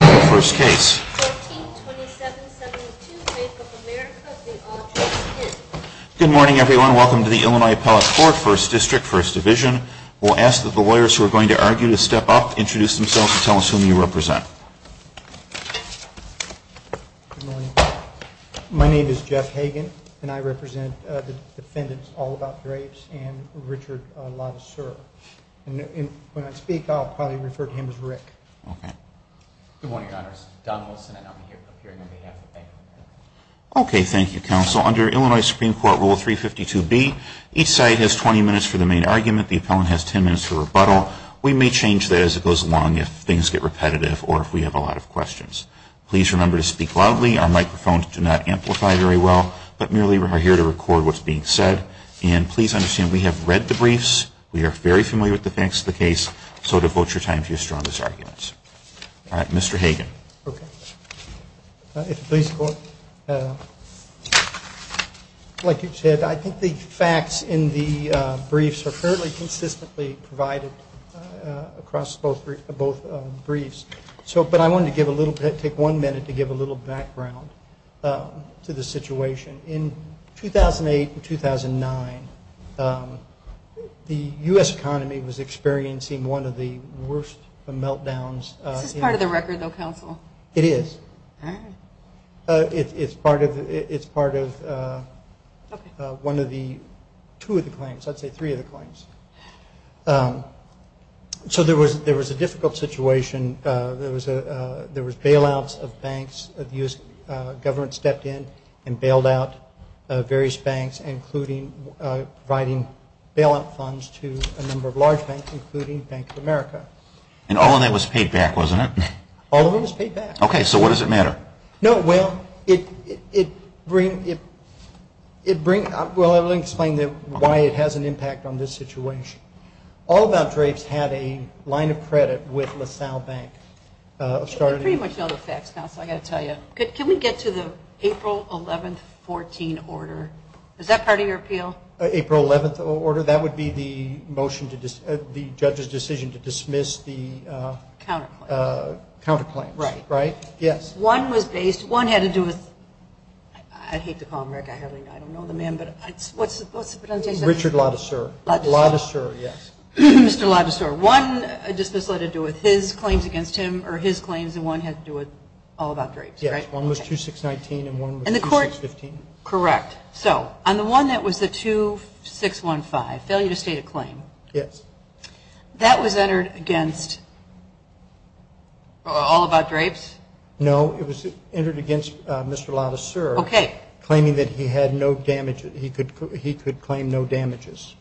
Good morning, everyone. Welcome to the Illinois Appellate Court, 1st District, 1st Division. We'll ask that the lawyers who are going to argue to step up, introduce themselves, and tell us whom you represent. Good morning. My name is Jeff Hagen, and I represent the defendants, All About Drapes, and Richard Latticer. When I speak, I'll probably refer to him as Rick. Okay. Good morning, Your Honors. Don Wilson, and I'm here to appear on behalf of the defendant. Okay. Thank you, Counsel. Under Illinois Supreme Court Rule 352B, each side has 20 minutes for the main argument. The appellant has 10 minutes for rebuttal. We may change that as it goes along if things get repetitive or if we have a lot of questions. Please remember to speak loudly. Our microphones do not amplify very well, but merely are here to record what's being said. And please understand, we have read the briefs. We are very familiar with the facts of the case. So devote your time to your strongest arguments. All right. Mr. Hagen. Okay. Like you said, I think the facts in the briefs are fairly consistently provided across both briefs. But I wanted to take one minute to give a little background to the situation. In 2008 and 2009, the U.S. economy was experiencing one of the worst meltdowns. This is part of the record, though, Counsel. It is. All right. It's part of one of the two of the claims. I'd say three of the claims. So there was a difficult situation. There was bailouts of banks. The U.S. government stepped in and bailed out various banks, including providing bailout funds to a number of large banks, including Bank of America. And all of that was paid back, wasn't it? All of it was paid back. Okay. So what does it matter? No, well, it brings up why it has an impact on this situation. All of Mt. Drapes had a line of credit with LaSalle Bank. You pretty much know the facts, Counsel. I've got to tell you. Can we get to the April 11th, 2014 order? Is that part of your appeal? April 11th order. That would be the judge's decision to dismiss the counterclaims. Right. Right? Yes. One was based, one had to do with, I'd hate to call him Rick. I don't know the man, but what's his name? Richard Latticer. Latticer, yes. Mr. Latticer. One dismissal had to do with his claims against him or his claims and one had to do with All About Drapes, right? Yes. One was 2619 and one was 2615. Correct. So on the one that was the 2615, failure to state a claim. Yes. That was entered against All About Drapes? No. It was entered against Mr. Latticer. Okay. Claiming that he had no damage, he could claim no damages.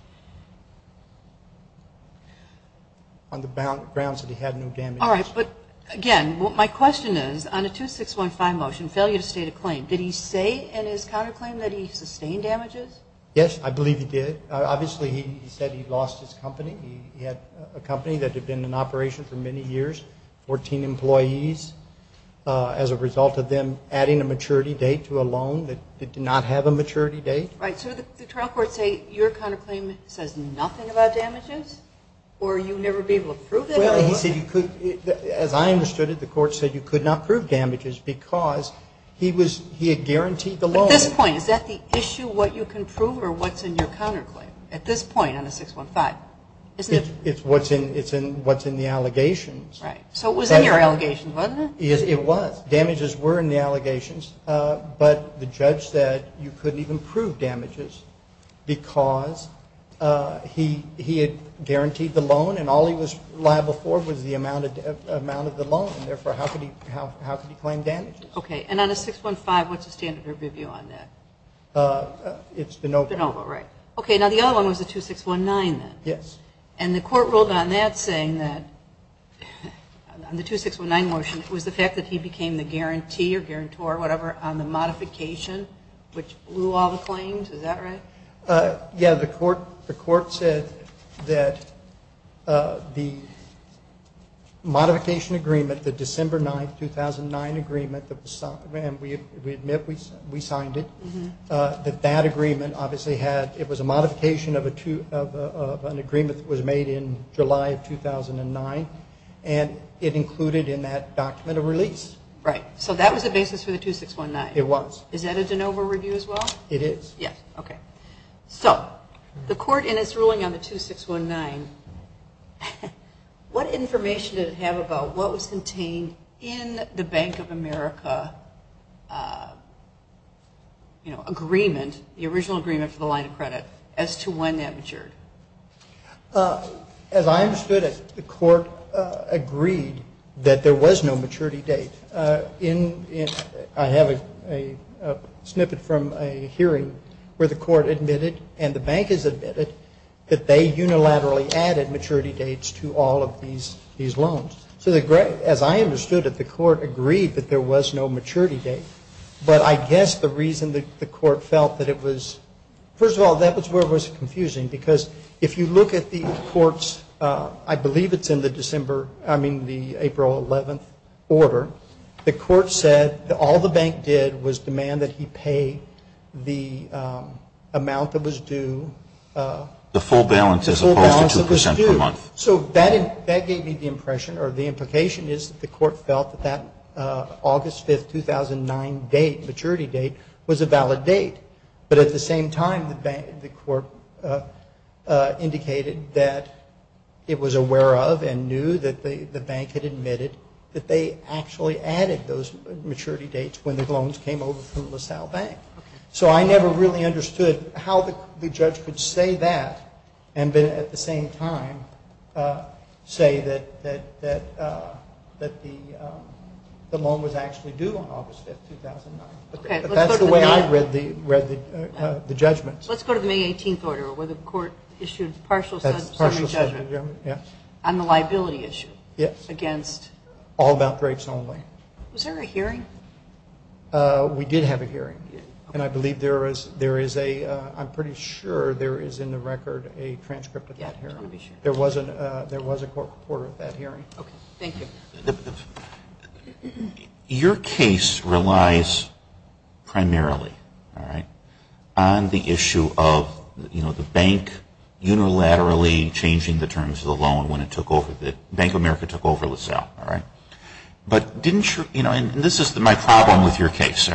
On the grounds that he had no damage. All right. But, again, my question is, on the 2615 motion, failure to state a claim, did he say in his counterclaim that he sustained damages? Yes, I believe he did. Obviously, he said he lost his company. He had a company that had been in operation for many years, 14 employees, as a result of them adding a maturity date to a loan that did not have a maturity date. Right. So did the attorney court say your counterclaim says nothing about damages or you'd never be able to prove it? Well, he said you could as I understood it, the court said you could not prove damages because he had guaranteed the loan. But at this point, is that the issue, what you can prove, or what's in your counterclaim at this point on the 615? It's what's in the allegations. Right. So it was in your allegations, wasn't it? It was. Damages were in the allegations, but the judge said you couldn't even prove damages because he had guaranteed the loan and all he was liable for was the amount of the loan, and therefore how could he claim damages? Okay. And on the 615, what's the standard review on that? It's de novo. De novo, right. Okay. Now, the other one was the 2619 then. Yes. And the court ruled on that saying that the 2619 motion was the fact that he became the guarantee or guarantor or whatever on the modification, which blew all the claims. Is that right? Yeah, the court said that the modification agreement, the December 9, 2009 agreement, and we admit we signed it, that that agreement obviously had, it was a modification of an agreement that was made in July of 2009, and it included in that document a release. Right. So that was the basis for the 2619. It was. Is that a de novo review as well? It is. Yes. Okay. So the court in its ruling on the 2619, what information did it have about what was contained in the Bank of America, you know, agreement, the original agreement for the line of credit, as to when that matured? As I understood it, the court agreed that there was no maturity date. I have a snippet from a hearing where the court admitted and the bank has admitted that they unilaterally added maturity dates to all of these loans. So as I understood it, the court agreed that there was no maturity date. But I guess the reason the court felt that it was, first of all, that was where it was confusing because if you look at the court's, I believe it's in the April 11th order, the court said all the bank did was demand that he pay the amount that was due. The full balance as opposed to 2% per month. So that gave me the impression, or the implication is that the court felt that that August 5th, 2009, maturity date was a valid date. But at the same time, the court indicated that it was aware of and knew that the bank had admitted that they actually added those maturity dates when the loans came over from LaSalle Bank. So I never really understood how the judge could say that and then at the same time say that the loan was actually due on August 5th, 2009. That's the way I read the judgment. Let's go to the May 18th order where the court issued partial summary judgment on the liability issue against. All about grapes only. Was there a hearing? We did have a hearing. And I believe there is a, I'm pretty sure there is in the record a transcript of that hearing. There was a court report of that hearing. Thank you. Your case relies primarily on the issue of the bank unilaterally changing the terms of the loan when Bank of America took over LaSalle. And this is my problem with your case.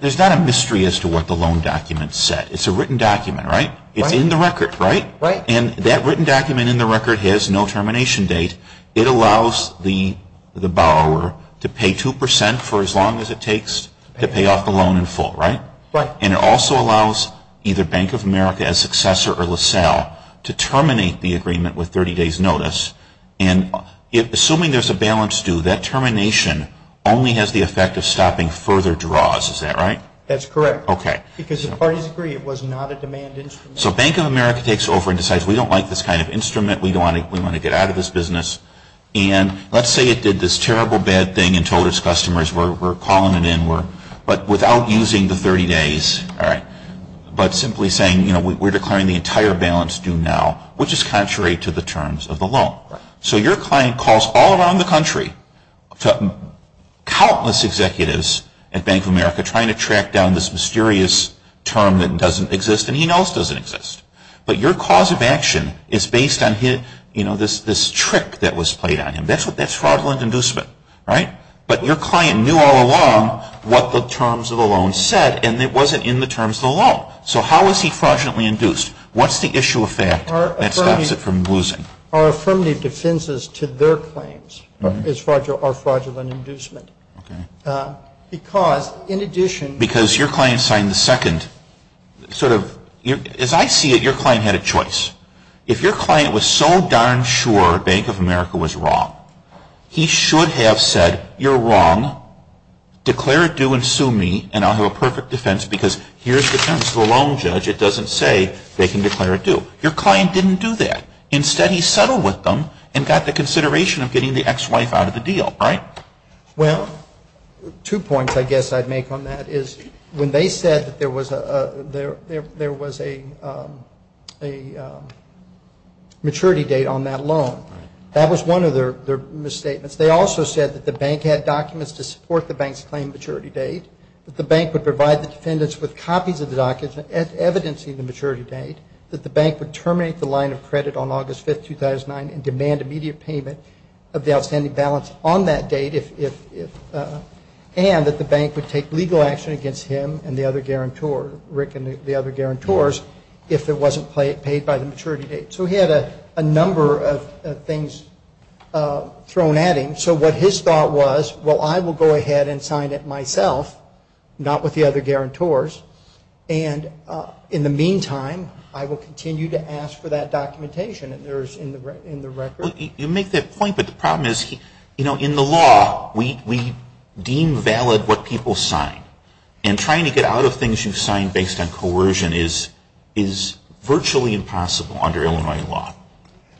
There's not a mystery as to what the loan document said. It's a written document, right? It's in the record, right? And that written document in the record has no termination date. It allows the borrower to pay 2% for as long as it takes to pay off the loan in full, right? Right. And it also allows either Bank of America as successor or LaSalle to terminate the agreement with 30 days notice. And assuming there's a balance due, that termination only has the effect of stopping further draws. Is that right? That's correct. Okay. Because the parties agree it was not a demand instrument. So Bank of America takes over and decides we don't like this kind of business. And let's say it did this terrible bad thing and told its customers we're calling it in, but without using the 30 days. All right. But simply saying, you know, we're declaring the entire balance due now, which is contrary to the terms of the loan. Right. So your client calls all around the country to countless executives at Bank of America trying to track down this mysterious term that doesn't exist and he knows doesn't exist. But your cause of action is based on, you know, this trick that was played on him. That's fraudulent inducement. Right? But your client knew all along what the terms of the loan said and it wasn't in the terms of the loan. So how is he fraudulently induced? What's the issue of fact that stops it from losing? Our affirmative defenses to their claims are fraudulent inducement. Okay. Because, in addition. Because your client signed the second sort of, as I see it, your client had a choice. If your client was so darn sure Bank of America was wrong, he should have said, you're wrong. Declare it due and sue me and I'll have a perfect defense because here's the terms of the loan, Judge. It doesn't say they can declare it due. Your client didn't do that. Instead he settled with them and got the consideration of getting the ex-wife out of the deal. Right? Well, two points I guess I'd make on that is, when they said that there was a maturity date on that loan, that was one of their misstatements. They also said that the bank had documents to support the bank's claimed maturity date, that the bank would provide the defendants with copies of the documents evidencing the maturity date, that the bank would terminate the line of credit on August 5th, 2009, and demand immediate payment of the outstanding balance on that date, and that the bank would take legal action against him and the other guarantor, Rick and the other guarantors, if it wasn't paid by the maturity date. So he had a number of things thrown at him. So what his thought was, well, I will go ahead and sign it myself, not with the other guarantors, and in the meantime, I will continue to ask for that documentation. And there is in the record. You make that point, but the problem is, you know, in the law, we deem valid what people sign. And trying to get out of things you've signed based on coercion is virtually impossible under Illinois law.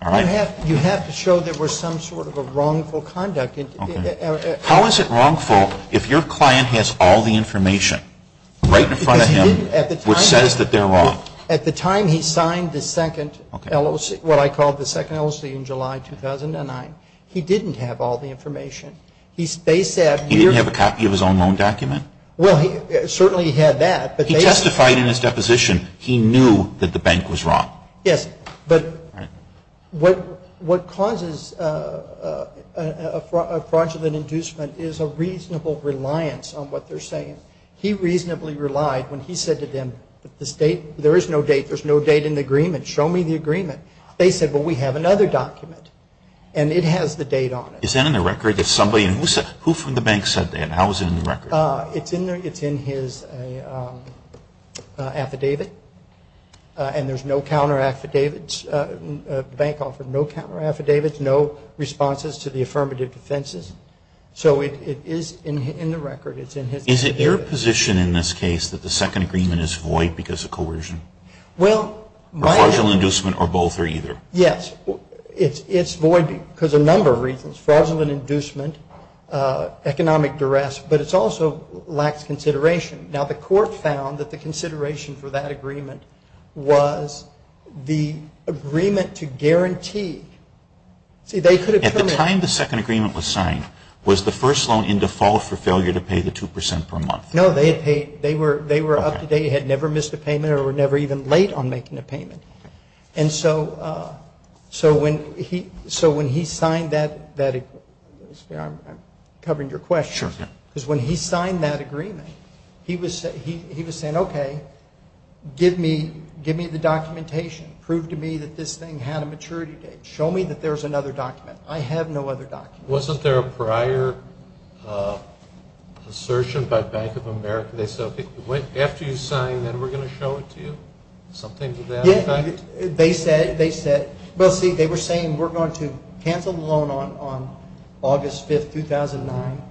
You have to show there was some sort of a wrongful conduct. How is it wrongful if your client has all the information right in front of him which says that they're wrong? Well, at the time he signed the second LOC, what I call the second LOC in July 2009, he didn't have all the information. They said here. He didn't have a copy of his own loan document. Well, he certainly had that. He testified in his deposition he knew that the bank was wrong. Yes, but what causes a fraudulent inducement is a reasonable reliance on what they're saying. He reasonably relied when he said to them, there is no date. There's no date in the agreement. Show me the agreement. They said, well, we have another document. And it has the date on it. Is that in the record? Who from the bank said that? How is it in the record? It's in his affidavit. And there's no counter affidavits. The bank offered no counter affidavits, no responses to the affirmative defenses. So it is in the record. It's in his affidavit. Is it your position in this case that the second agreement is void because of coercion? Fraudulent inducement or both or either? Yes. It's void because of a number of reasons. Fraudulent inducement, economic duress, but it also lacks consideration. Now, the court found that the consideration for that agreement was the agreement to guarantee. See, they could have terminated. By the time the second agreement was signed, was the first loan in default for failure to pay the 2% per month? No, they had paid. They were up to date. They had never missed a payment or were never even late on making a payment. And so when he signed that, I'm covering your question. Sure. Because when he signed that agreement, he was saying, okay, give me the documentation. Prove to me that this thing had a maturity date. Show me that there's another document. I have no other documents. Wasn't there a prior assertion by Bank of America? They said, okay, after you sign, then we're going to show it to you. Something to that effect? Yeah. They said, well, see, they were saying we're going to cancel the loan on August 5, 2009,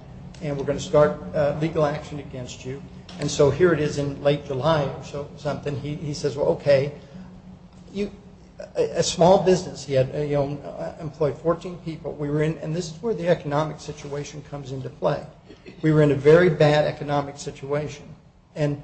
and we're going to start legal action against you. And so here it is in late July or something. He says, well, okay. A small business, he employed 14 people. And this is where the economic situation comes into play. We were in a very bad economic situation. And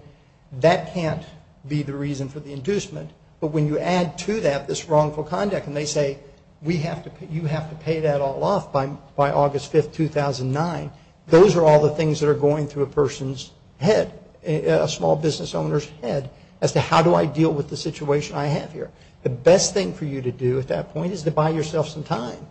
that can't be the reason for the inducement. But when you add to that this wrongful conduct and they say you have to pay that all off by August 5, 2009, those are all the things that are going through a person's head, a small business owner's head, as to how do I deal with the situation I have here. The best thing for you to do at that point is to buy yourself some time.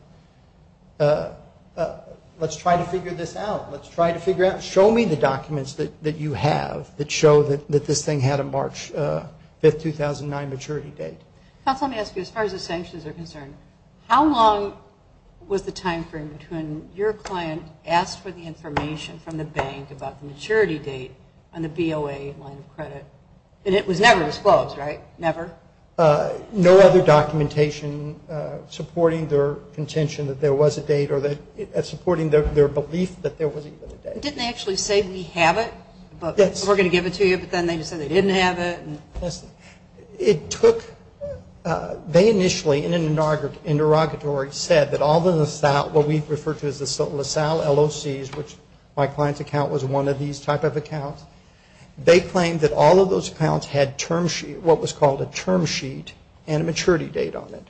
Let's try to figure this out. Let's try to figure out. Show me the documents that you have that show that this thing had a March 5, 2009 maturity date. Counsel, let me ask you, as far as the sanctions are concerned, how long was the time frame between your client asked for the information from the bank about the maturity date on the BOA line of credit? And it was never disclosed, right? Never? No other documentation supporting their contention that there was a date or supporting their belief that there was even a date. Didn't they actually say we have it? Yes. We're going to give it to you, but then they just said they didn't have it. Yes. It took they initially in an interrogatory said that all the LaSalle, what we refer to as the LaSalle LOCs, which my client's account was one of these type of accounts, they claimed that all of those accounts had what was called a term sheet and a maturity date on it.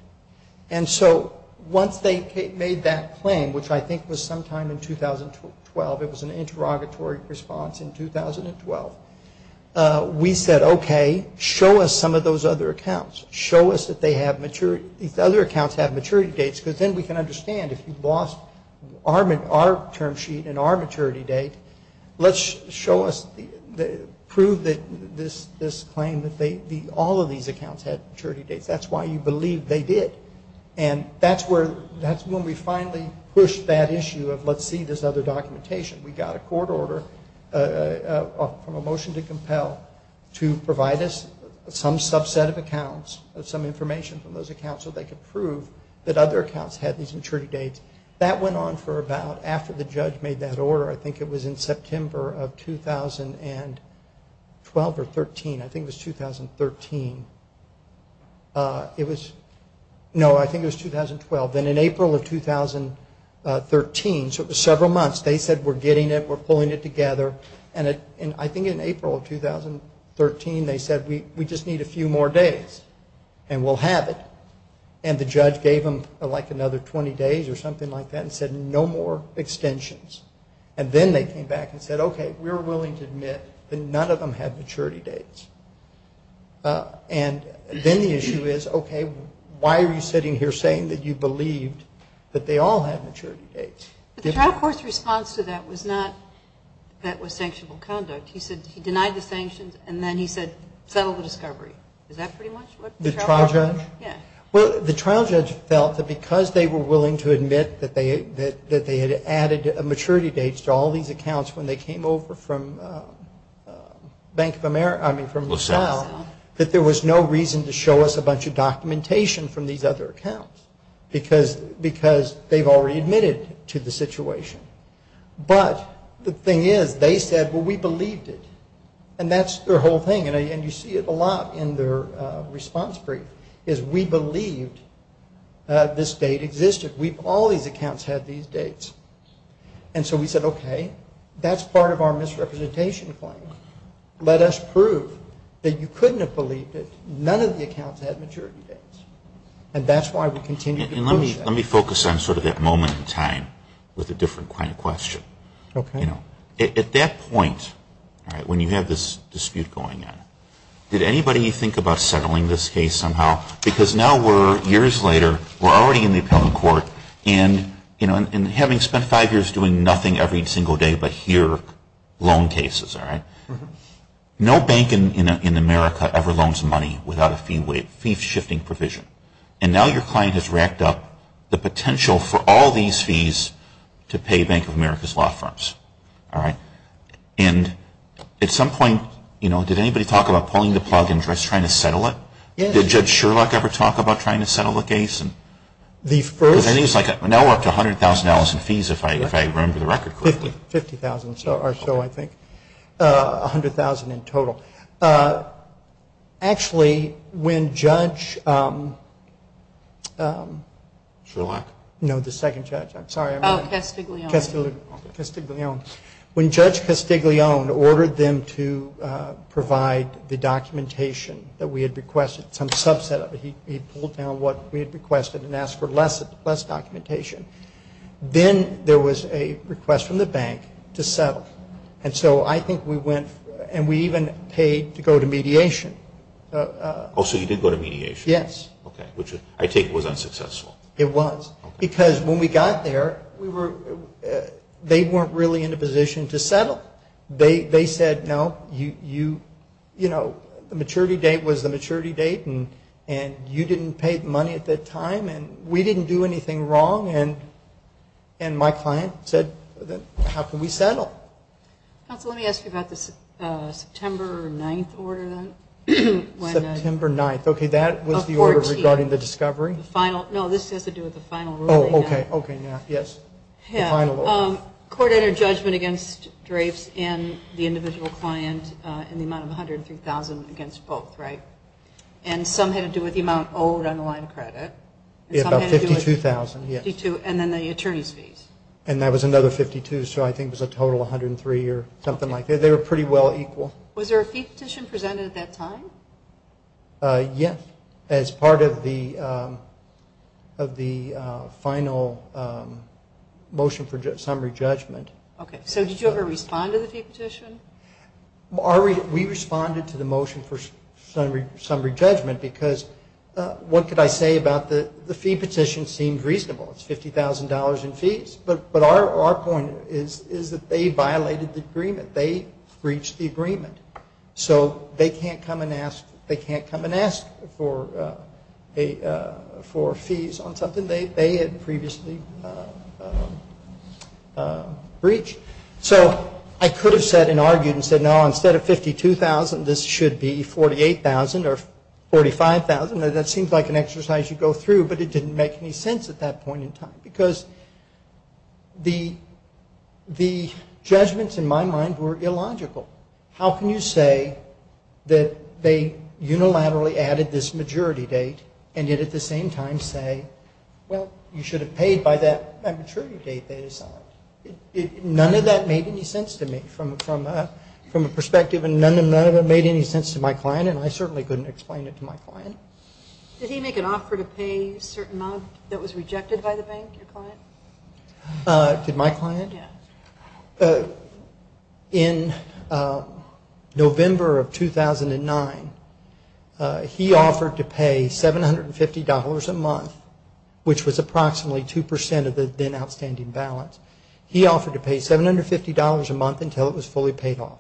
And so once they made that claim, which I think was sometime in 2012, it was an interrogatory response in 2012, we said, okay, show us some of those other accounts. Show us that these other accounts have maturity dates, because then we can understand if you've lost our term sheet and our maturity date, let's show us, prove that this claim that all of these accounts had maturity dates. That's why you believe they did. And that's when we finally pushed that issue of let's see this other documentation. We got a court order from a motion to compel to provide us some subset of accounts, of some information from those accounts so they could prove that other accounts had these maturity dates. That went on for about after the judge made that order. I think it was in September of 2012 or 13. I think it was 2013. It was, no, I think it was 2012. And in April of 2013, so it was several months, they said we're getting it, we're pulling it together. I think in April of 2013 they said we just need a few more days and we'll have it. And the judge gave them like another 20 days or something like that and said no more extensions. And then they came back and said, okay, we're willing to admit that none of them had maturity dates. And then the issue is, okay, why are you sitting here saying that you believed that they all had maturity dates? But the trial court's response to that was not that was sanctionable conduct. He said he denied the sanctions and then he said settle the discovery. Is that pretty much what the trial court did? The trial judge? Yeah. Well, the trial judge felt that because they were willing to admit that they had added maturity dates to all these accounts when they came over from Bank of America, I mean from LaSalle, that there was no reason to show us a bunch of documentation from these other accounts because they've already admitted to the situation. But the thing is they said, well, we believed it. And that's their whole thing. And you see it a lot in their response brief is we believed this date existed. All these accounts had these dates. And so we said, okay, that's part of our misrepresentation claim. Let us prove that you couldn't have believed it. None of the accounts had maturity dates. And that's why we continue to believe that. Let me focus on sort of that moment in time with a different kind of question. Okay. At that point, all right, when you have this dispute going on, did anybody think about settling this case somehow? Because now we're years later, we're already in the appellate court, and having spent five years doing nothing every single day but hear loan cases, all right, no bank in America ever loans money without a fee shifting provision. And now your client has racked up the potential for all these fees to pay Bank of America's law firms, all right? And at some point, you know, did anybody talk about pulling the plug and just trying to settle it? Did Judge Sherlock ever talk about trying to settle the case? Because now we're up to $100,000 in fees if I remember the record correctly. $50,000 or so, I think. $100,000 in total. Actually, when Judge Sherlock, no, the second judge, I'm sorry. Oh, Castiglione. Castiglione. When Judge Castiglione ordered them to provide the documentation that we had requested, some subset of it, he pulled down what we had requested and asked for less documentation. Then there was a request from the bank to settle. And so I think we went and we even paid to go to mediation. Oh, so you did go to mediation? Yes. Okay, which I take was unsuccessful. It was. Because when we got there, they weren't really in a position to settle. They said, no, you, you know, the maturity date was the maturity date and you didn't pay the money at that time and we didn't do anything wrong. And my client said, how can we settle? Counsel, let me ask you about the September 9th order then. September 9th. Okay, that was the order regarding the discovery. No, this has to do with the final ruling. Oh, okay. Yes. The final order. Court entered judgment against Drapes and the individual client in the amount of $100,000 and $3,000 against both, right? And some had to do with the amount owed on the line of credit. About $52,000, yes. And then the attorney's fees. And that was another $52,000, so I think it was a total of $103,000 or something like that. They were pretty well equal. Was there a fee petition presented at that time? Yes, as part of the final motion for summary judgment. Okay, so did you ever respond to the fee petition? We responded to the motion for summary judgment because what could I say about the fee petition seemed reasonable. It's $50,000 in fees. But our point is that they violated the agreement. They breached the agreement. So they can't come and ask for fees on something they had previously breached. So I could have said and argued and said, no, instead of $52,000, this should be $48,000 or $45,000. That seems like an exercise you go through, but it didn't make any sense at that point in time because the judgments in my mind were illogical. How can you say that they unilaterally added this majority date and yet at the same time say, well, you should have paid by that maturity date they assigned? None of that made any sense to me from a perspective, and none of it made any sense to my client, and I certainly couldn't explain it to my client. Did he make an offer to pay a certain amount that was rejected by the bank, your client? Did my client? Yes. In November of 2009, he offered to pay $750 a month, which was approximately 2% of the then outstanding balance. He offered to pay $750 a month until it was fully paid off.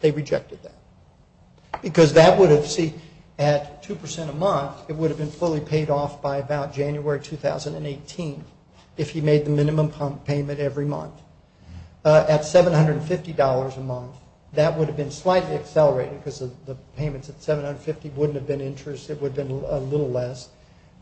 They rejected that because that would have seen at 2% a month, it would have been fully paid off by about January 2018 if he made the minimum payment every month. At $750 a month, that would have been slightly accelerated because the payments at $750 wouldn't have been interest, it would have been a little less.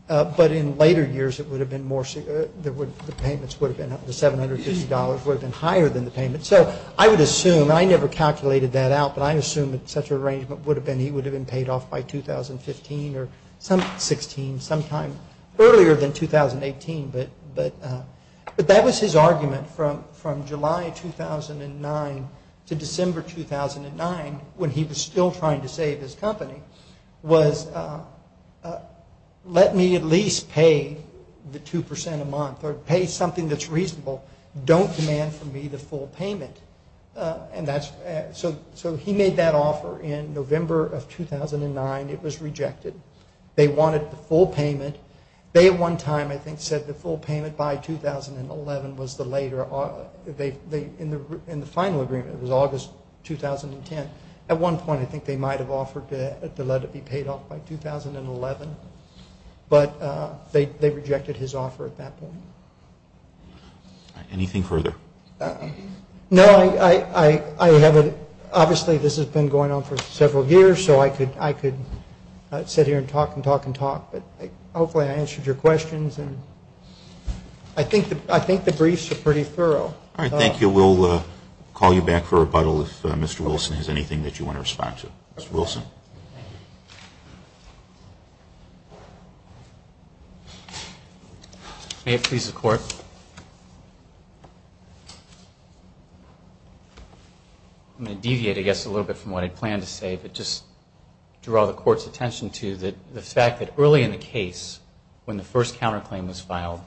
But in later years, it would have been more, the payments would have been, the $750 would have been higher than the payment. So I would assume, and I never calculated that out, but I assume that such an arrangement would have been, he would have been paid off by 2015 or some, 16, sometime earlier than 2018. But that was his argument from July 2009 to December 2009 when he was still trying to save his company was, let me at least pay the 2% a month or pay something that's reasonable. Don't demand from me the full payment. So he made that offer in November of 2009. It was rejected. They wanted the full payment. They at one time, I think, said the full payment by 2011 was the later, in the final agreement, it was August 2010. At one point, I think they might have offered to let it be paid off by 2011. But they rejected his offer at that point. Anything further? No, I haven't. Obviously, this has been going on for several years, so I could sit here and talk and talk and talk. But hopefully I answered your questions. I think the briefs are pretty thorough. All right, thank you. We'll call you back for rebuttal if Mr. Wilson has anything that you want to respond to. Mr. Wilson. May it please the Court. I'm going to deviate, I guess, a little bit from what I planned to say, but just draw the Court's attention to the fact that early in the case, when the first counterclaim was filed,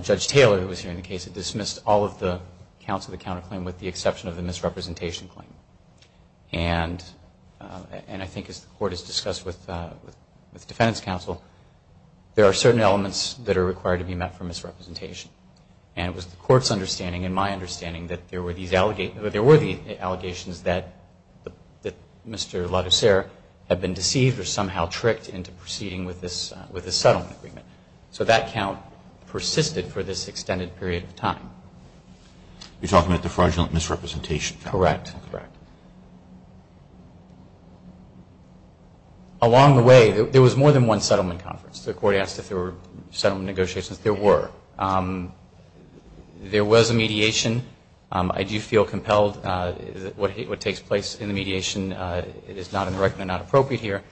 Judge Taylor, who was here in the case, had dismissed all of the counts of the counterclaim with the exception of the misrepresentation claim. And I think as the Court has discussed with the Defendant's Counsel, there are certain elements that are required to be met for misrepresentation. And it was the Court's understanding and my understanding that there were these allegations that Mr. LaGosser had been deceived or somehow tricked into proceeding with this settlement agreement. So that count persisted for this extended period of time. You're talking about the fraudulent misrepresentation? Correct. Correct. Along the way, there was more than one settlement conference. The Court asked if there were settlement negotiations. There were. There was a mediation. I do feel compelled. What takes place in the mediation is not in the record and not appropriate here.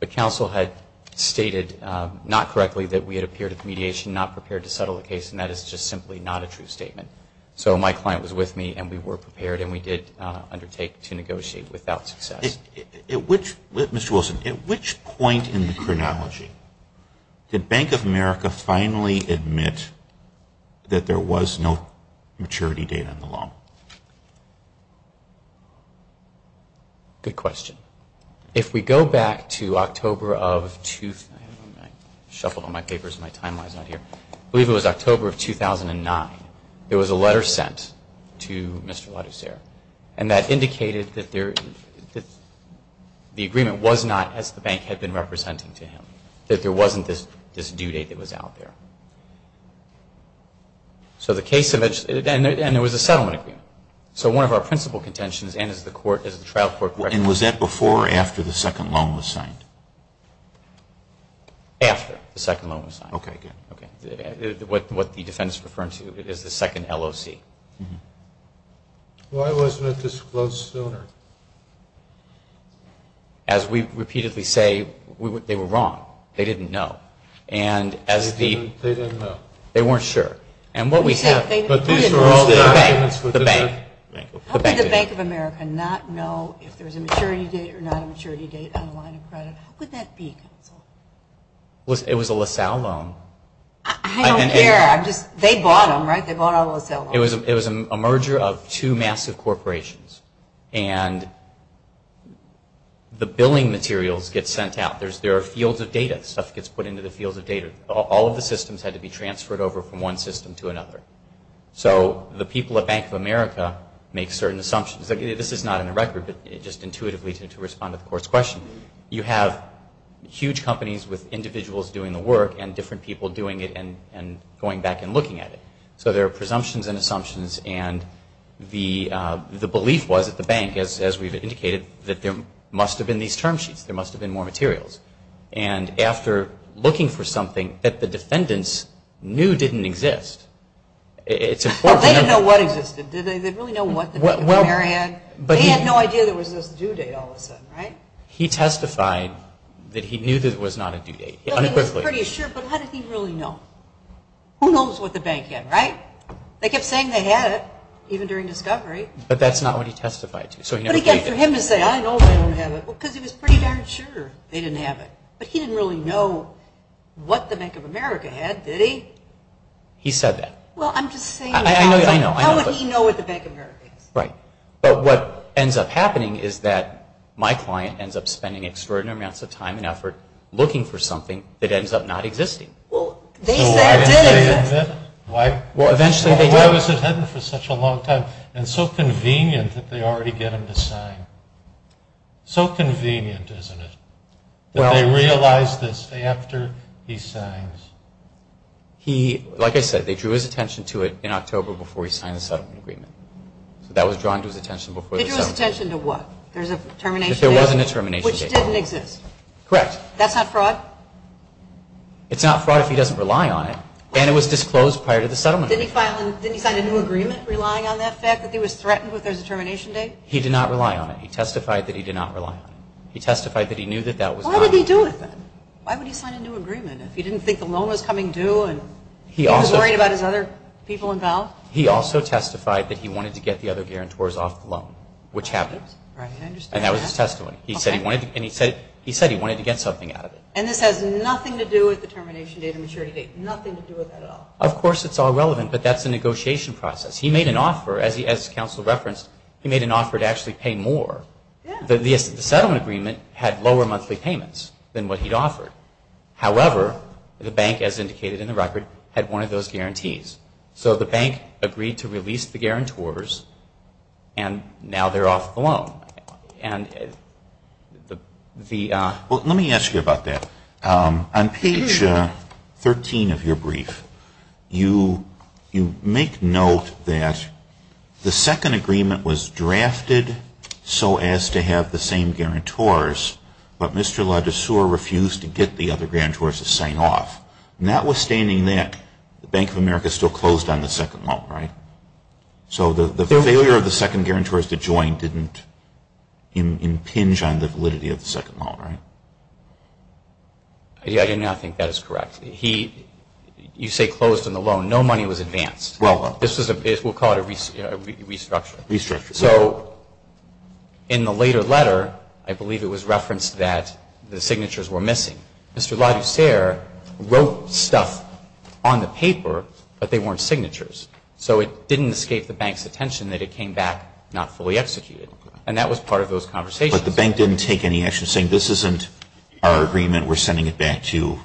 But counsel had stated, not correctly, that we had appeared at the mediation, not prepared to settle the case, and that is just simply not a true statement. So my client was with me, and we were prepared, and we did undertake to negotiate without success. Mr. Wilson, at which point in the chronology did Bank of America finally admit that there was no maturity date on the loan? Good question. If we go back to October of 2000, I shuffled all my papers and my timeline is not here, I believe it was October of 2009, there was a letter sent to Mr. LaGosser, and that indicated that the agreement was not as the bank had been representing to him, that there wasn't this due date that was out there. So the case, and there was a settlement agreement. So one of our principal contentions, and as the trial court recommended. And was that before or after the second loan was signed? After the second loan was signed. Okay, good. What the defense is referring to is the second LOC. Why wasn't it disclosed sooner? As we repeatedly say, they were wrong. They didn't know. They didn't know. They weren't sure. But these were all the documents for the bank. How could the Bank of America not know if there was a maturity date or not a maturity date on the line of credit? How could that be, counsel? It was a LaSalle loan. I don't care. They bought them, right? They bought all the LaSalle loans. It was a merger of two massive corporations. And the billing materials get sent out. There are fields of data. Stuff gets put into the fields of data. All of the systems had to be transferred over from one system to another. So the people at Bank of America make certain assumptions. This is not in the record, but just intuitively to respond to the court's question. You have huge companies with individuals doing the work and different people doing it and going back and looking at it. So there are presumptions and assumptions. And the belief was at the bank, as we've indicated, that there must have been these term sheets. There must have been more materials. And after looking for something that the defendants knew didn't exist, it's important to know. Well, they didn't know what existed, did they? They didn't really know what the Bank of America had. They had no idea there was this due date all of a sudden, right? He testified that he knew that it was not a due date, unequivocally. Well, he was pretty sure, but how did he really know? Who knows what the bank had, right? They kept saying they had it, even during discovery. But that's not what he testified to. But again, for him to say, I know they don't have it, because he was pretty darn sure they didn't have it. But he didn't really know what the Bank of America had, did he? He said that. Well, I'm just saying, how would he know what the Bank of America is? Right. But what ends up happening is that my client ends up spending extraordinary amounts of time and effort looking for something that ends up not existing. Well, they said it did exist. Well, why was it hidden for such a long time and so convenient that they already get him to sign? So convenient, isn't it, that they realize this after he signs? Like I said, they drew his attention to it in October before he signed the settlement agreement. So that was drawn to his attention before the settlement agreement. They drew his attention to what? There's a termination date. There was a termination date. Which didn't exist. Correct. That's not fraud? It's not fraud if he doesn't rely on it. And it was disclosed prior to the settlement agreement. Didn't he sign a new agreement relying on the fact that he was threatened with a termination date? He did not rely on it. He testified that he did not rely on it. He testified that he knew that that was not. What did he do with it? Why would he sign a new agreement if he didn't think the loan was coming due and he was worried about his other people involved? He also testified that he wanted to get the other guarantors off the loan, which happened. Right, I understand that. And that was his testimony. Okay. And he said he wanted to get something out of it. And this has nothing to do with the termination date and maturity date. Nothing to do with that at all. Of course it's all relevant, but that's a negotiation process. He made an offer, as counsel referenced, he made an offer to actually pay more. The settlement agreement had lower monthly payments than what he'd offered. However, the bank, as indicated in the record, had one of those guarantees. So the bank agreed to release the guarantors, and now they're off the loan. Well, let me ask you about that. On page 13 of your brief, you make note that the second agreement was drafted so as to have the same guarantors, but Mr. LaDesseur refused to get the other guarantors to sign off. Notwithstanding that, the Bank of America still closed on the second loan, right? So the failure of the second guarantors to join didn't impinge on the validity of the second loan, right? I do not think that is correct. You say closed on the loan. No money was advanced. We'll call it a restructure. Restructure. So in the later letter, I believe it was referenced that the signatures were missing. Mr. LaDesseur wrote stuff on the paper, but they weren't signatures. So it didn't escape the bank's attention that it came back not fully executed. And that was part of those conversations. But the bank didn't take any action, saying this isn't our agreement. We're sending it back to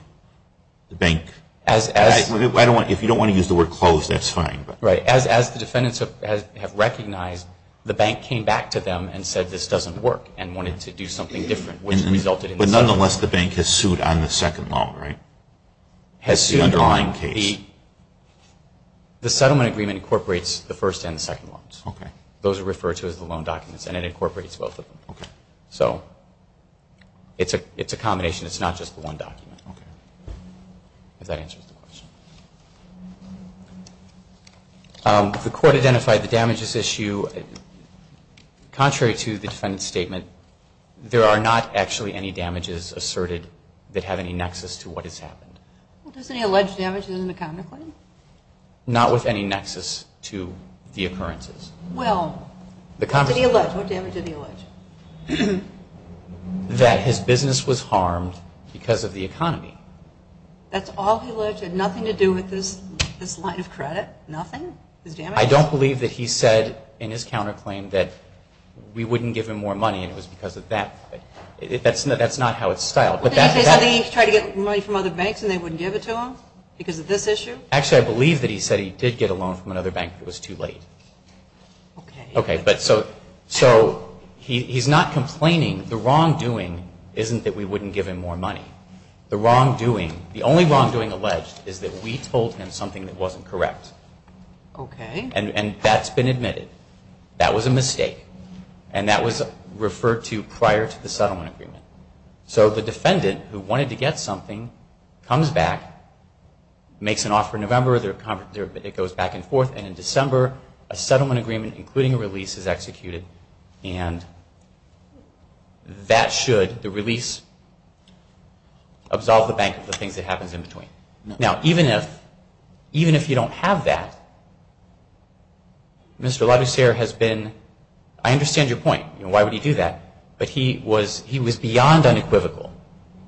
the bank. If you don't want to use the word closed, that's fine. Right. As the defendants have recognized, the bank came back to them and said this doesn't work and wanted to do something different, which resulted in the second loan. But nonetheless, the bank has sued on the second loan, right? The underlying case. The settlement agreement incorporates the first and the second loans. Those are referred to as the loan documents, and it incorporates both of them. So it's a combination. It's not just the one document, if that answers the question. The court identified the damages issue. Contrary to the defendant's statement, there are not actually any damages asserted that have any nexus to what has happened. Well, does he allege damages in the counterclaim? Not with any nexus to the occurrences. Well, what damage did he allege? That his business was harmed because of the economy. That's all he alleged? Had nothing to do with this line of credit? Nothing? I don't believe that he said in his counterclaim that we wouldn't give him more money and it was because of that. That's not how it's styled. Well, didn't he say something? He tried to get money from other banks and they wouldn't give it to him because of this issue? Actually, I believe that he said he did get a loan from another bank, but it was too late. Okay. Okay, but so he's not complaining. The wrongdoing isn't that we wouldn't give him more money. The wrongdoing, the only wrongdoing alleged is that we told him something that wasn't correct. Okay. And that's been admitted. That was a mistake. And that was referred to prior to the settlement agreement. So the defendant, who wanted to get something, comes back, makes an offer in November, it goes back and forth, and in December, a settlement agreement, including a release, is executed. And that should, the release, absolve the bank of the things that happens in between. Now, even if you don't have that, Mr. LaDucere has been, I understand your point. Why would he do that? But he was beyond unequivocal.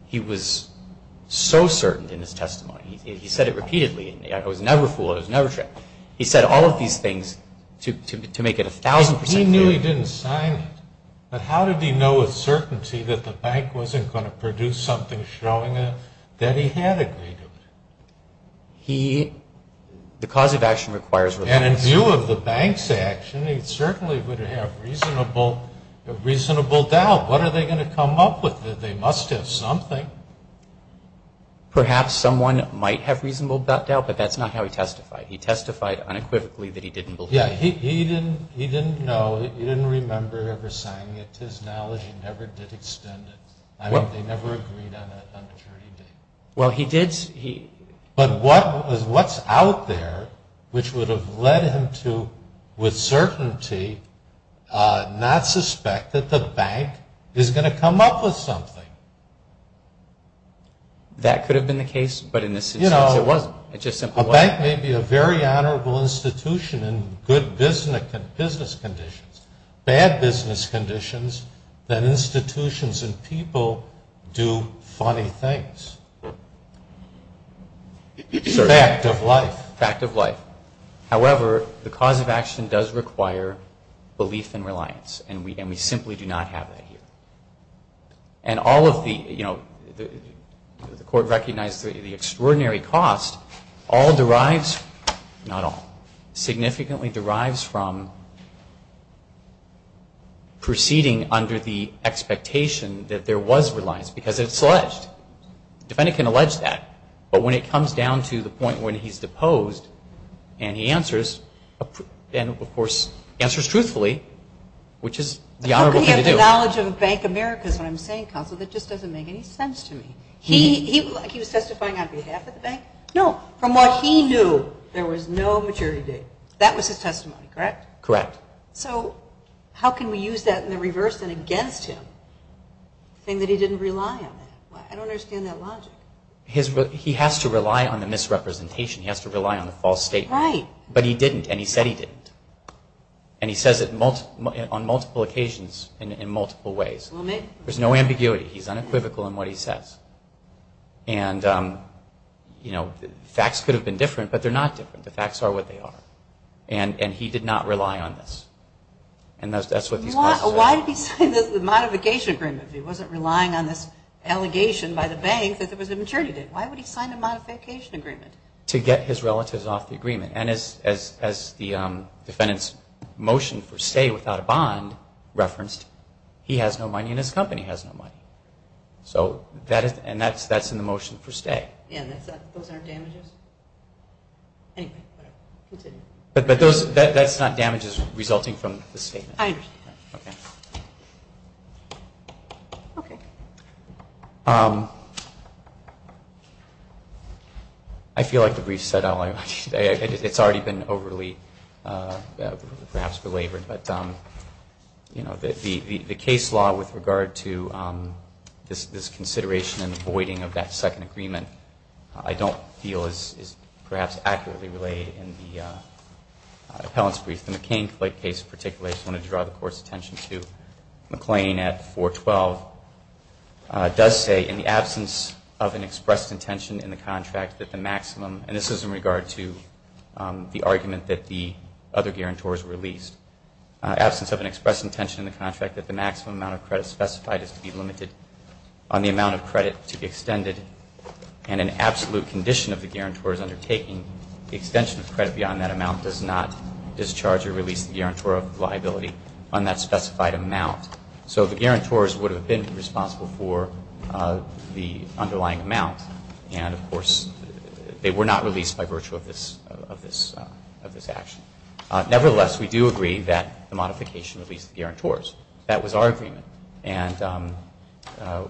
He was so certain in his testimony. He said it repeatedly. I was never fooled. I was never tricked. He said all of these things to make it 1,000% clear. He knew he didn't sign it, but how did he know with certainty that the bank wasn't going to produce something showing that he had agreed to it? The cause of action requires reluctance. And in view of the bank's action, he certainly would have reasonable doubt. What are they going to come up with? They must have something. Perhaps someone might have reasonable doubt, but that's not how he testified. He testified unequivocally that he didn't believe. Yeah, he didn't know. He didn't remember ever signing it. To his knowledge, he never did extend it. I mean, they never agreed on that on Maturity Day. Well, he did. But what's out there which would have led him to, with certainty, not suspect that the bank is going to come up with something? That could have been the case, but in this instance it wasn't. It just simply wasn't. A bank may be a very honorable institution in good business conditions, bad business conditions, but institutions and people do funny things. Fact of life. Fact of life. However, the cause of action does require belief and reliance, and we simply do not have that here. And all of the, you know, the Court recognized the extraordinary cost all derives, not all, significantly derives from proceeding under the expectation that there was reliance, because it's alleged. The defendant can allege that, but when it comes down to the point when he's deposed and he answers, and, of course, answers truthfully, which is the honorable thing to do. How could he have the knowledge of a Bank of America is what I'm saying, counsel. That just doesn't make any sense to me. He was testifying on behalf of the bank? No. From what he knew, there was no maturity date. That was his testimony, correct? Correct. So how can we use that in the reverse and against him, saying that he didn't rely on that? I don't understand that logic. He has to rely on the misrepresentation. He has to rely on the false statement. Right. But he didn't, and he said he didn't. And he says it on multiple occasions in multiple ways. There's no ambiguity. He's unequivocal in what he says. And, you know, facts could have been different, but they're not different. The facts are what they are. And he did not rely on this. And that's what these cases are. Why did he sign the modification agreement if he wasn't relying on this allegation by the bank that there was a maturity date? Why would he sign a modification agreement? To get his relatives off the agreement. And as the defendant's motion for stay without a bond referenced, he has no money and his company has no money. And that's in the motion for stay. Yeah, and those aren't damages? Anyway, whatever. Continue. But that's not damages resulting from the statement. I understand. Okay. Okay. I feel like the brief said all I wanted to say. It's already been overly perhaps belabored. But, you know, the case law with regard to this consideration and voiding of that second agreement, I don't feel is perhaps accurately related in the appellant's brief. The McCain case in particular, I just want to draw the Court's attention to, McClain at 412 does say in the absence of an expressed intention in the contract that the maximum, and this is in regard to the argument that the other guarantors released, absence of an expressed intention in the contract that the maximum amount of credit specified is to be limited on the amount of credit to be extended and an absolute condition of the guarantor's undertaking, the extension of credit beyond that amount does not discharge or release the guarantor of liability on that specified amount. So the guarantors would have been responsible for the underlying amount. And, of course, they were not released by virtue of this action. Nevertheless, we do agree that the modification released the guarantors. That was our agreement. And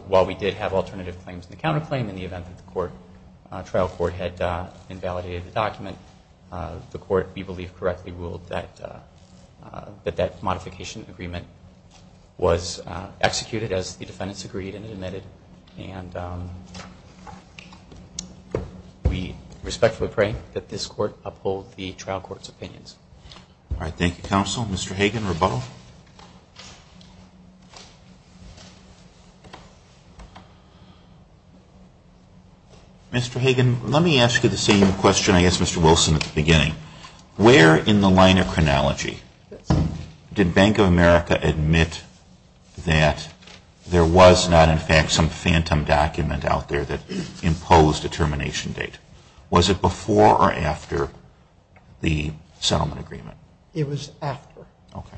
while we did have alternative claims in the counterclaim, in the event that the trial court had invalidated the document, the court, we believe, correctly ruled that that modification agreement was executed as the defendants agreed and admitted. And we respectfully pray that this court uphold the trial court's opinions. All right. Thank you, counsel. Mr. Hagan, rebuttal. Mr. Hagan, let me ask you the same question I asked Mr. Wilson at the beginning. Where in the line of chronology did Bank of America admit that there was not, in fact, some phantom document out there that imposed a termination date? Was it before or after the settlement agreement? It was after. Okay.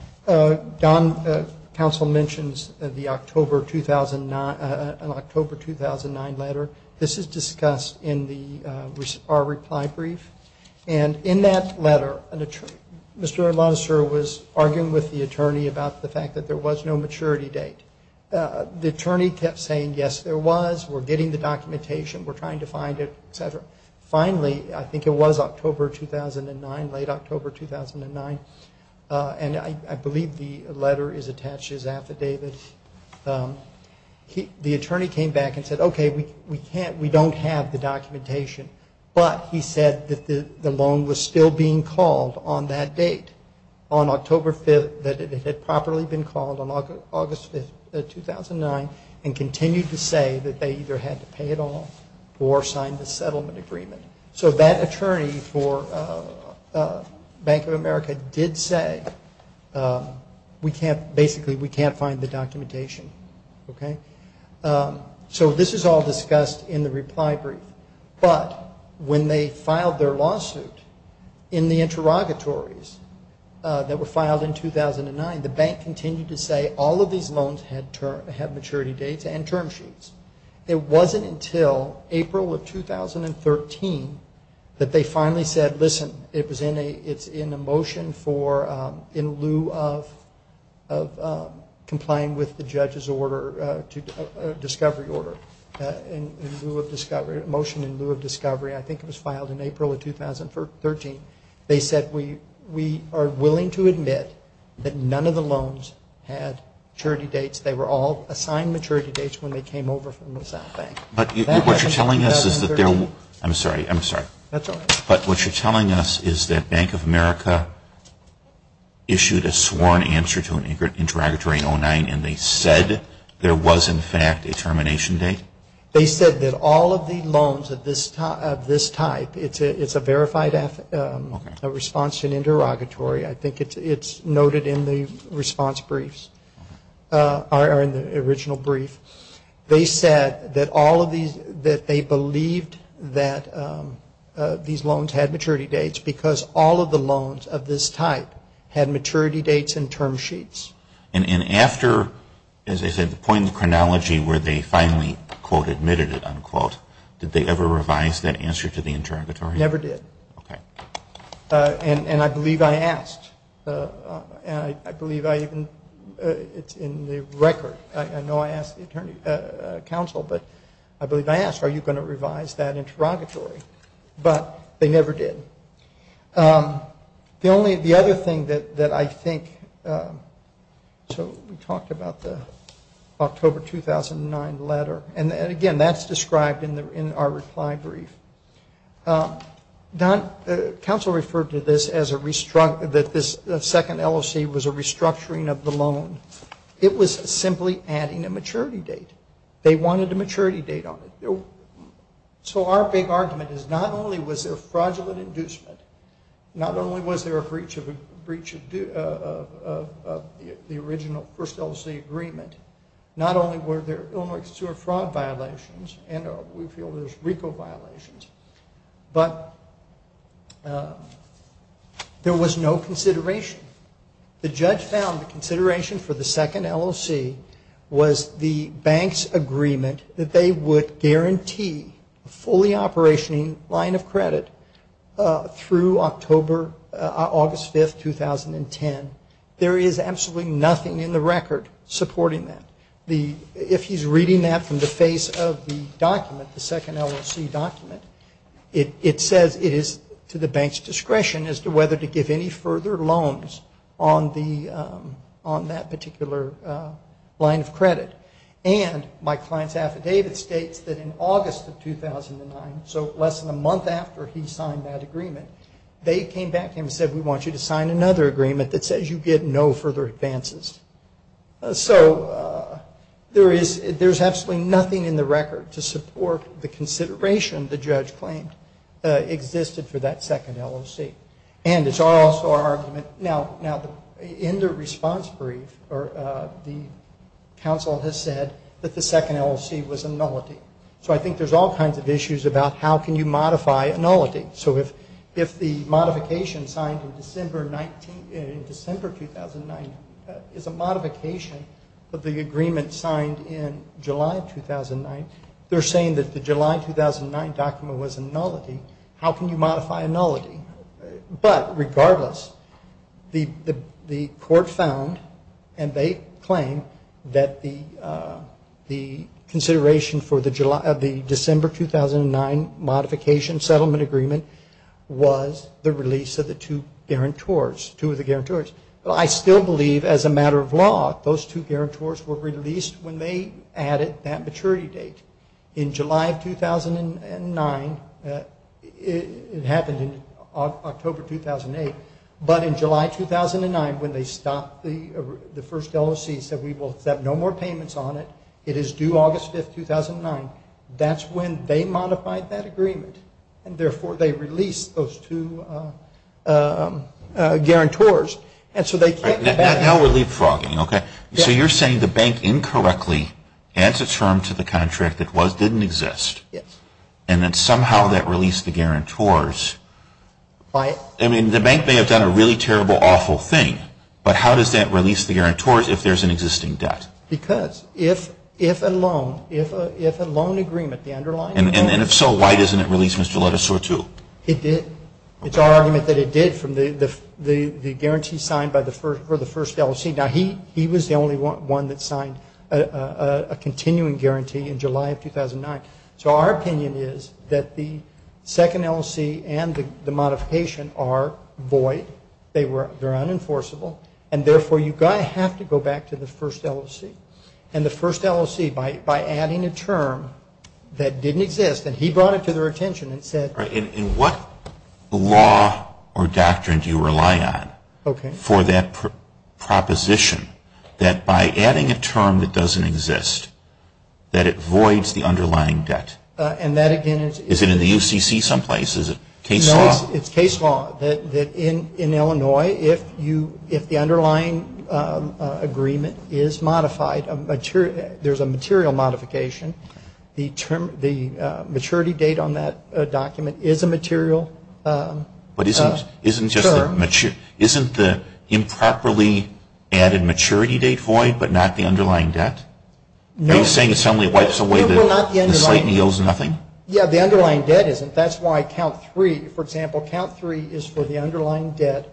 Don, counsel mentions the October 2009 letter. This is discussed in our reply brief. And in that letter, Mr. Alonzo was arguing with the attorney about the fact that there was no maturity date. The attorney kept saying, yes, there was. We're getting the documentation. We're trying to find it, et cetera. Finally, I think it was October 2009, late October 2009, and I believe the letter is attached to his affidavit. The attorney came back and said, okay, we don't have the documentation. But he said that the loan was still being called on that date, on October 5th, that it had properly been called on August 5th, 2009, and continued to say that they either had to pay it off or sign the settlement agreement. So that attorney for Bank of America did say, basically, we can't find the documentation. So this is all discussed in the reply brief. But when they filed their lawsuit in the interrogatories that were filed in 2009, the bank continued to say all of these loans had maturity dates and term sheets. It wasn't until April of 2013 that they finally said, listen, it's in a motion for in lieu of complying with the judge's order, discovery order, in lieu of discovery, motion in lieu of discovery. I think it was filed in April of 2013. They said, we are willing to admit that none of the loans had maturity dates. They were all assigned maturity dates when they came over from the South Bank. But what you're telling us is that they're – I'm sorry, I'm sorry. That's all right. But what you're telling us is that Bank of America issued a sworn answer to an interrogatory in 2009, and they said there was, in fact, a termination date? They said that all of the loans of this type – it's a verified response to an interrogatory. I think it's noted in the response briefs, or in the original brief. They said that all of these – that they believed that these loans had maturity dates because all of the loans of this type had maturity dates and term sheets. And after, as I said, the point in the chronology where they finally, quote, admitted it, unquote, did they ever revise that answer to the interrogatory? Never did. Okay. And I believe I asked. And I believe I even – it's in the record. I know I asked the counsel, but I believe I asked, are you going to revise that interrogatory? But they never did. The only – the other thing that I think – so we talked about the October 2009 letter. And, again, that's described in our reply brief. Counsel referred to this as a – that this second LOC was a restructuring of the loan. It was simply adding a maturity date. They wanted a maturity date on it. So our big argument is not only was there fraudulent inducement, not only was there a breach of the original first LOC agreement, not only were there Illinois exterior fraud violations, and we feel there's RICO violations, but there was no consideration. The judge found the consideration for the second LOC was the bank's agreement that they would guarantee a fully operationing line of credit through October – August 5, 2010. There is absolutely nothing in the record supporting that. If he's reading that from the face of the document, the second LOC document, it says it is to the bank's discretion as to whether to give any further loans on the – on that particular line of credit. And my client's affidavit states that in August of 2009, so less than a month after he signed that agreement, they came back to him and said, we want you to sign another agreement that says you get no further advances. So there is – there's absolutely nothing in the record to support the consideration the judge claimed existed for that second LOC. And it's also our argument – now, in the response brief, the counsel has said that the second LOC was a nullity. So I think there's all kinds of issues about how can you modify a nullity. So if the modification signed in December – in December 2009 is a modification of the agreement signed in July 2009, they're saying that the July 2009 document was a nullity. How can you modify a nullity? But regardless, the court found and they claim that the consideration for the December 2009 modification settlement agreement was the release of the two guarantors – two of the guarantors. Well, I still believe as a matter of law, those two guarantors were released when they added that maturity date. In July of 2009 – it happened in October 2008. But in July 2009, when they stopped the first LOC, said we will set no more payments on it. It is due August 5, 2009. That's when they modified that agreement. And therefore, they released those two guarantors. And so they – Now we're leapfrogging, okay? So you're saying the bank incorrectly adds a term to the contract that didn't exist. Yes. And then somehow that released the guarantors. I mean, the bank may have done a really terrible, awful thing. But how does that release the guarantors if there's an existing debt? Because if a loan – if a loan agreement, the underlying loan – And if so, why doesn't it release Mr. Ledesor too? It did. It's our argument that it did from the guarantee signed for the first LOC. Now, he was the only one that signed a continuing guarantee in July of 2009. So our opinion is that the second LOC and the modification are void. They're unenforceable. And therefore, you have to go back to the first LOC. And the first LOC, by adding a term that didn't exist – and he brought it to their attention and said – And what law or doctrine do you rely on for that proposition that by adding a term that doesn't exist, that it voids the underlying debt? And that, again, is – Is it in the UCC someplace? Is it case law? No, it's case law. That in Illinois, if you – if the underlying agreement is modified, there's a material modification, the term – the maturity date on that document is a material term. But isn't – isn't just the – isn't the improperly added maturity date void, but not the underlying debt? No. Are you saying the assembly wipes away the – No, we're not the underlying – The slate and he owes nothing? Yeah, the underlying debt isn't. That's why count three – for example, count three is for the underlying debt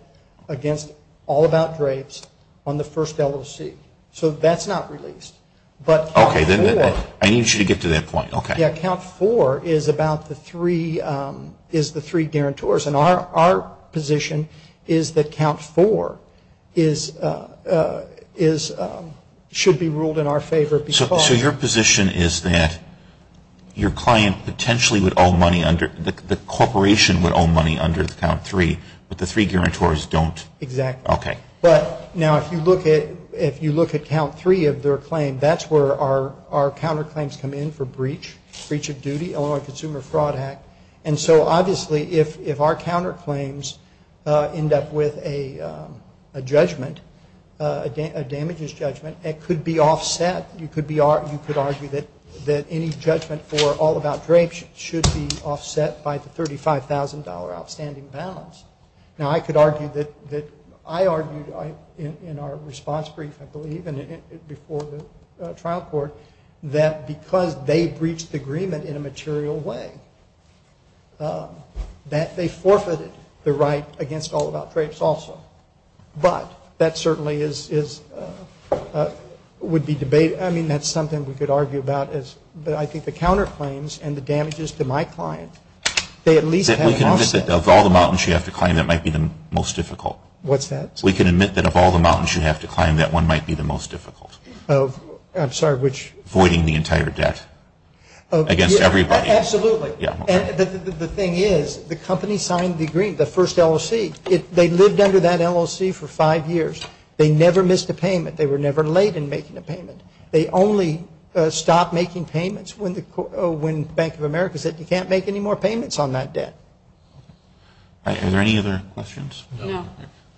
against all about drapes on the first LOC. So that's not released. But – Okay. I need you to get to that point. Okay. Yeah, count four is about the three – is the three guarantors. And our position is that count four is – is – should be ruled in our favor because – So your position is that your client potentially would owe money under – the corporation would owe money under count three, but the three guarantors don't? Exactly. Okay. But now if you look at – if you look at count three of their claim, that's where our counterclaims come in for breach, breach of duty, Illinois Consumer Fraud Act. And so obviously if our counterclaims end up with a judgment, a damages judgment, it could be offset. You could be – you could argue that any judgment for all about drapes should be offset by the $35,000 outstanding balance. Now, I could argue that – I argued in our response brief, I believe, before the trial court, that because they breached the agreement in a material way, that they forfeited the right against all about drapes also. But that certainly is – would be debated. I mean, that's something we could argue about. But I think the counterclaims and the damages to my client, they at least have offset. Of all the mountains you have to climb, that might be the most difficult. What's that? We can admit that of all the mountains you have to climb, that one might be the most difficult. I'm sorry, which? Avoiding the entire debt against everybody. Absolutely. And the thing is, the company signed the agreement, the first LLC. They lived under that LLC for five years. They never missed a payment. They were never late in making a payment. They only stopped making payments when Bank of America said you can't make any more payments on that debt. Are there any other questions? No. All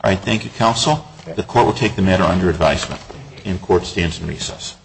right. Thank you, counsel. The court will take the matter under advisement. And the court stands in recess.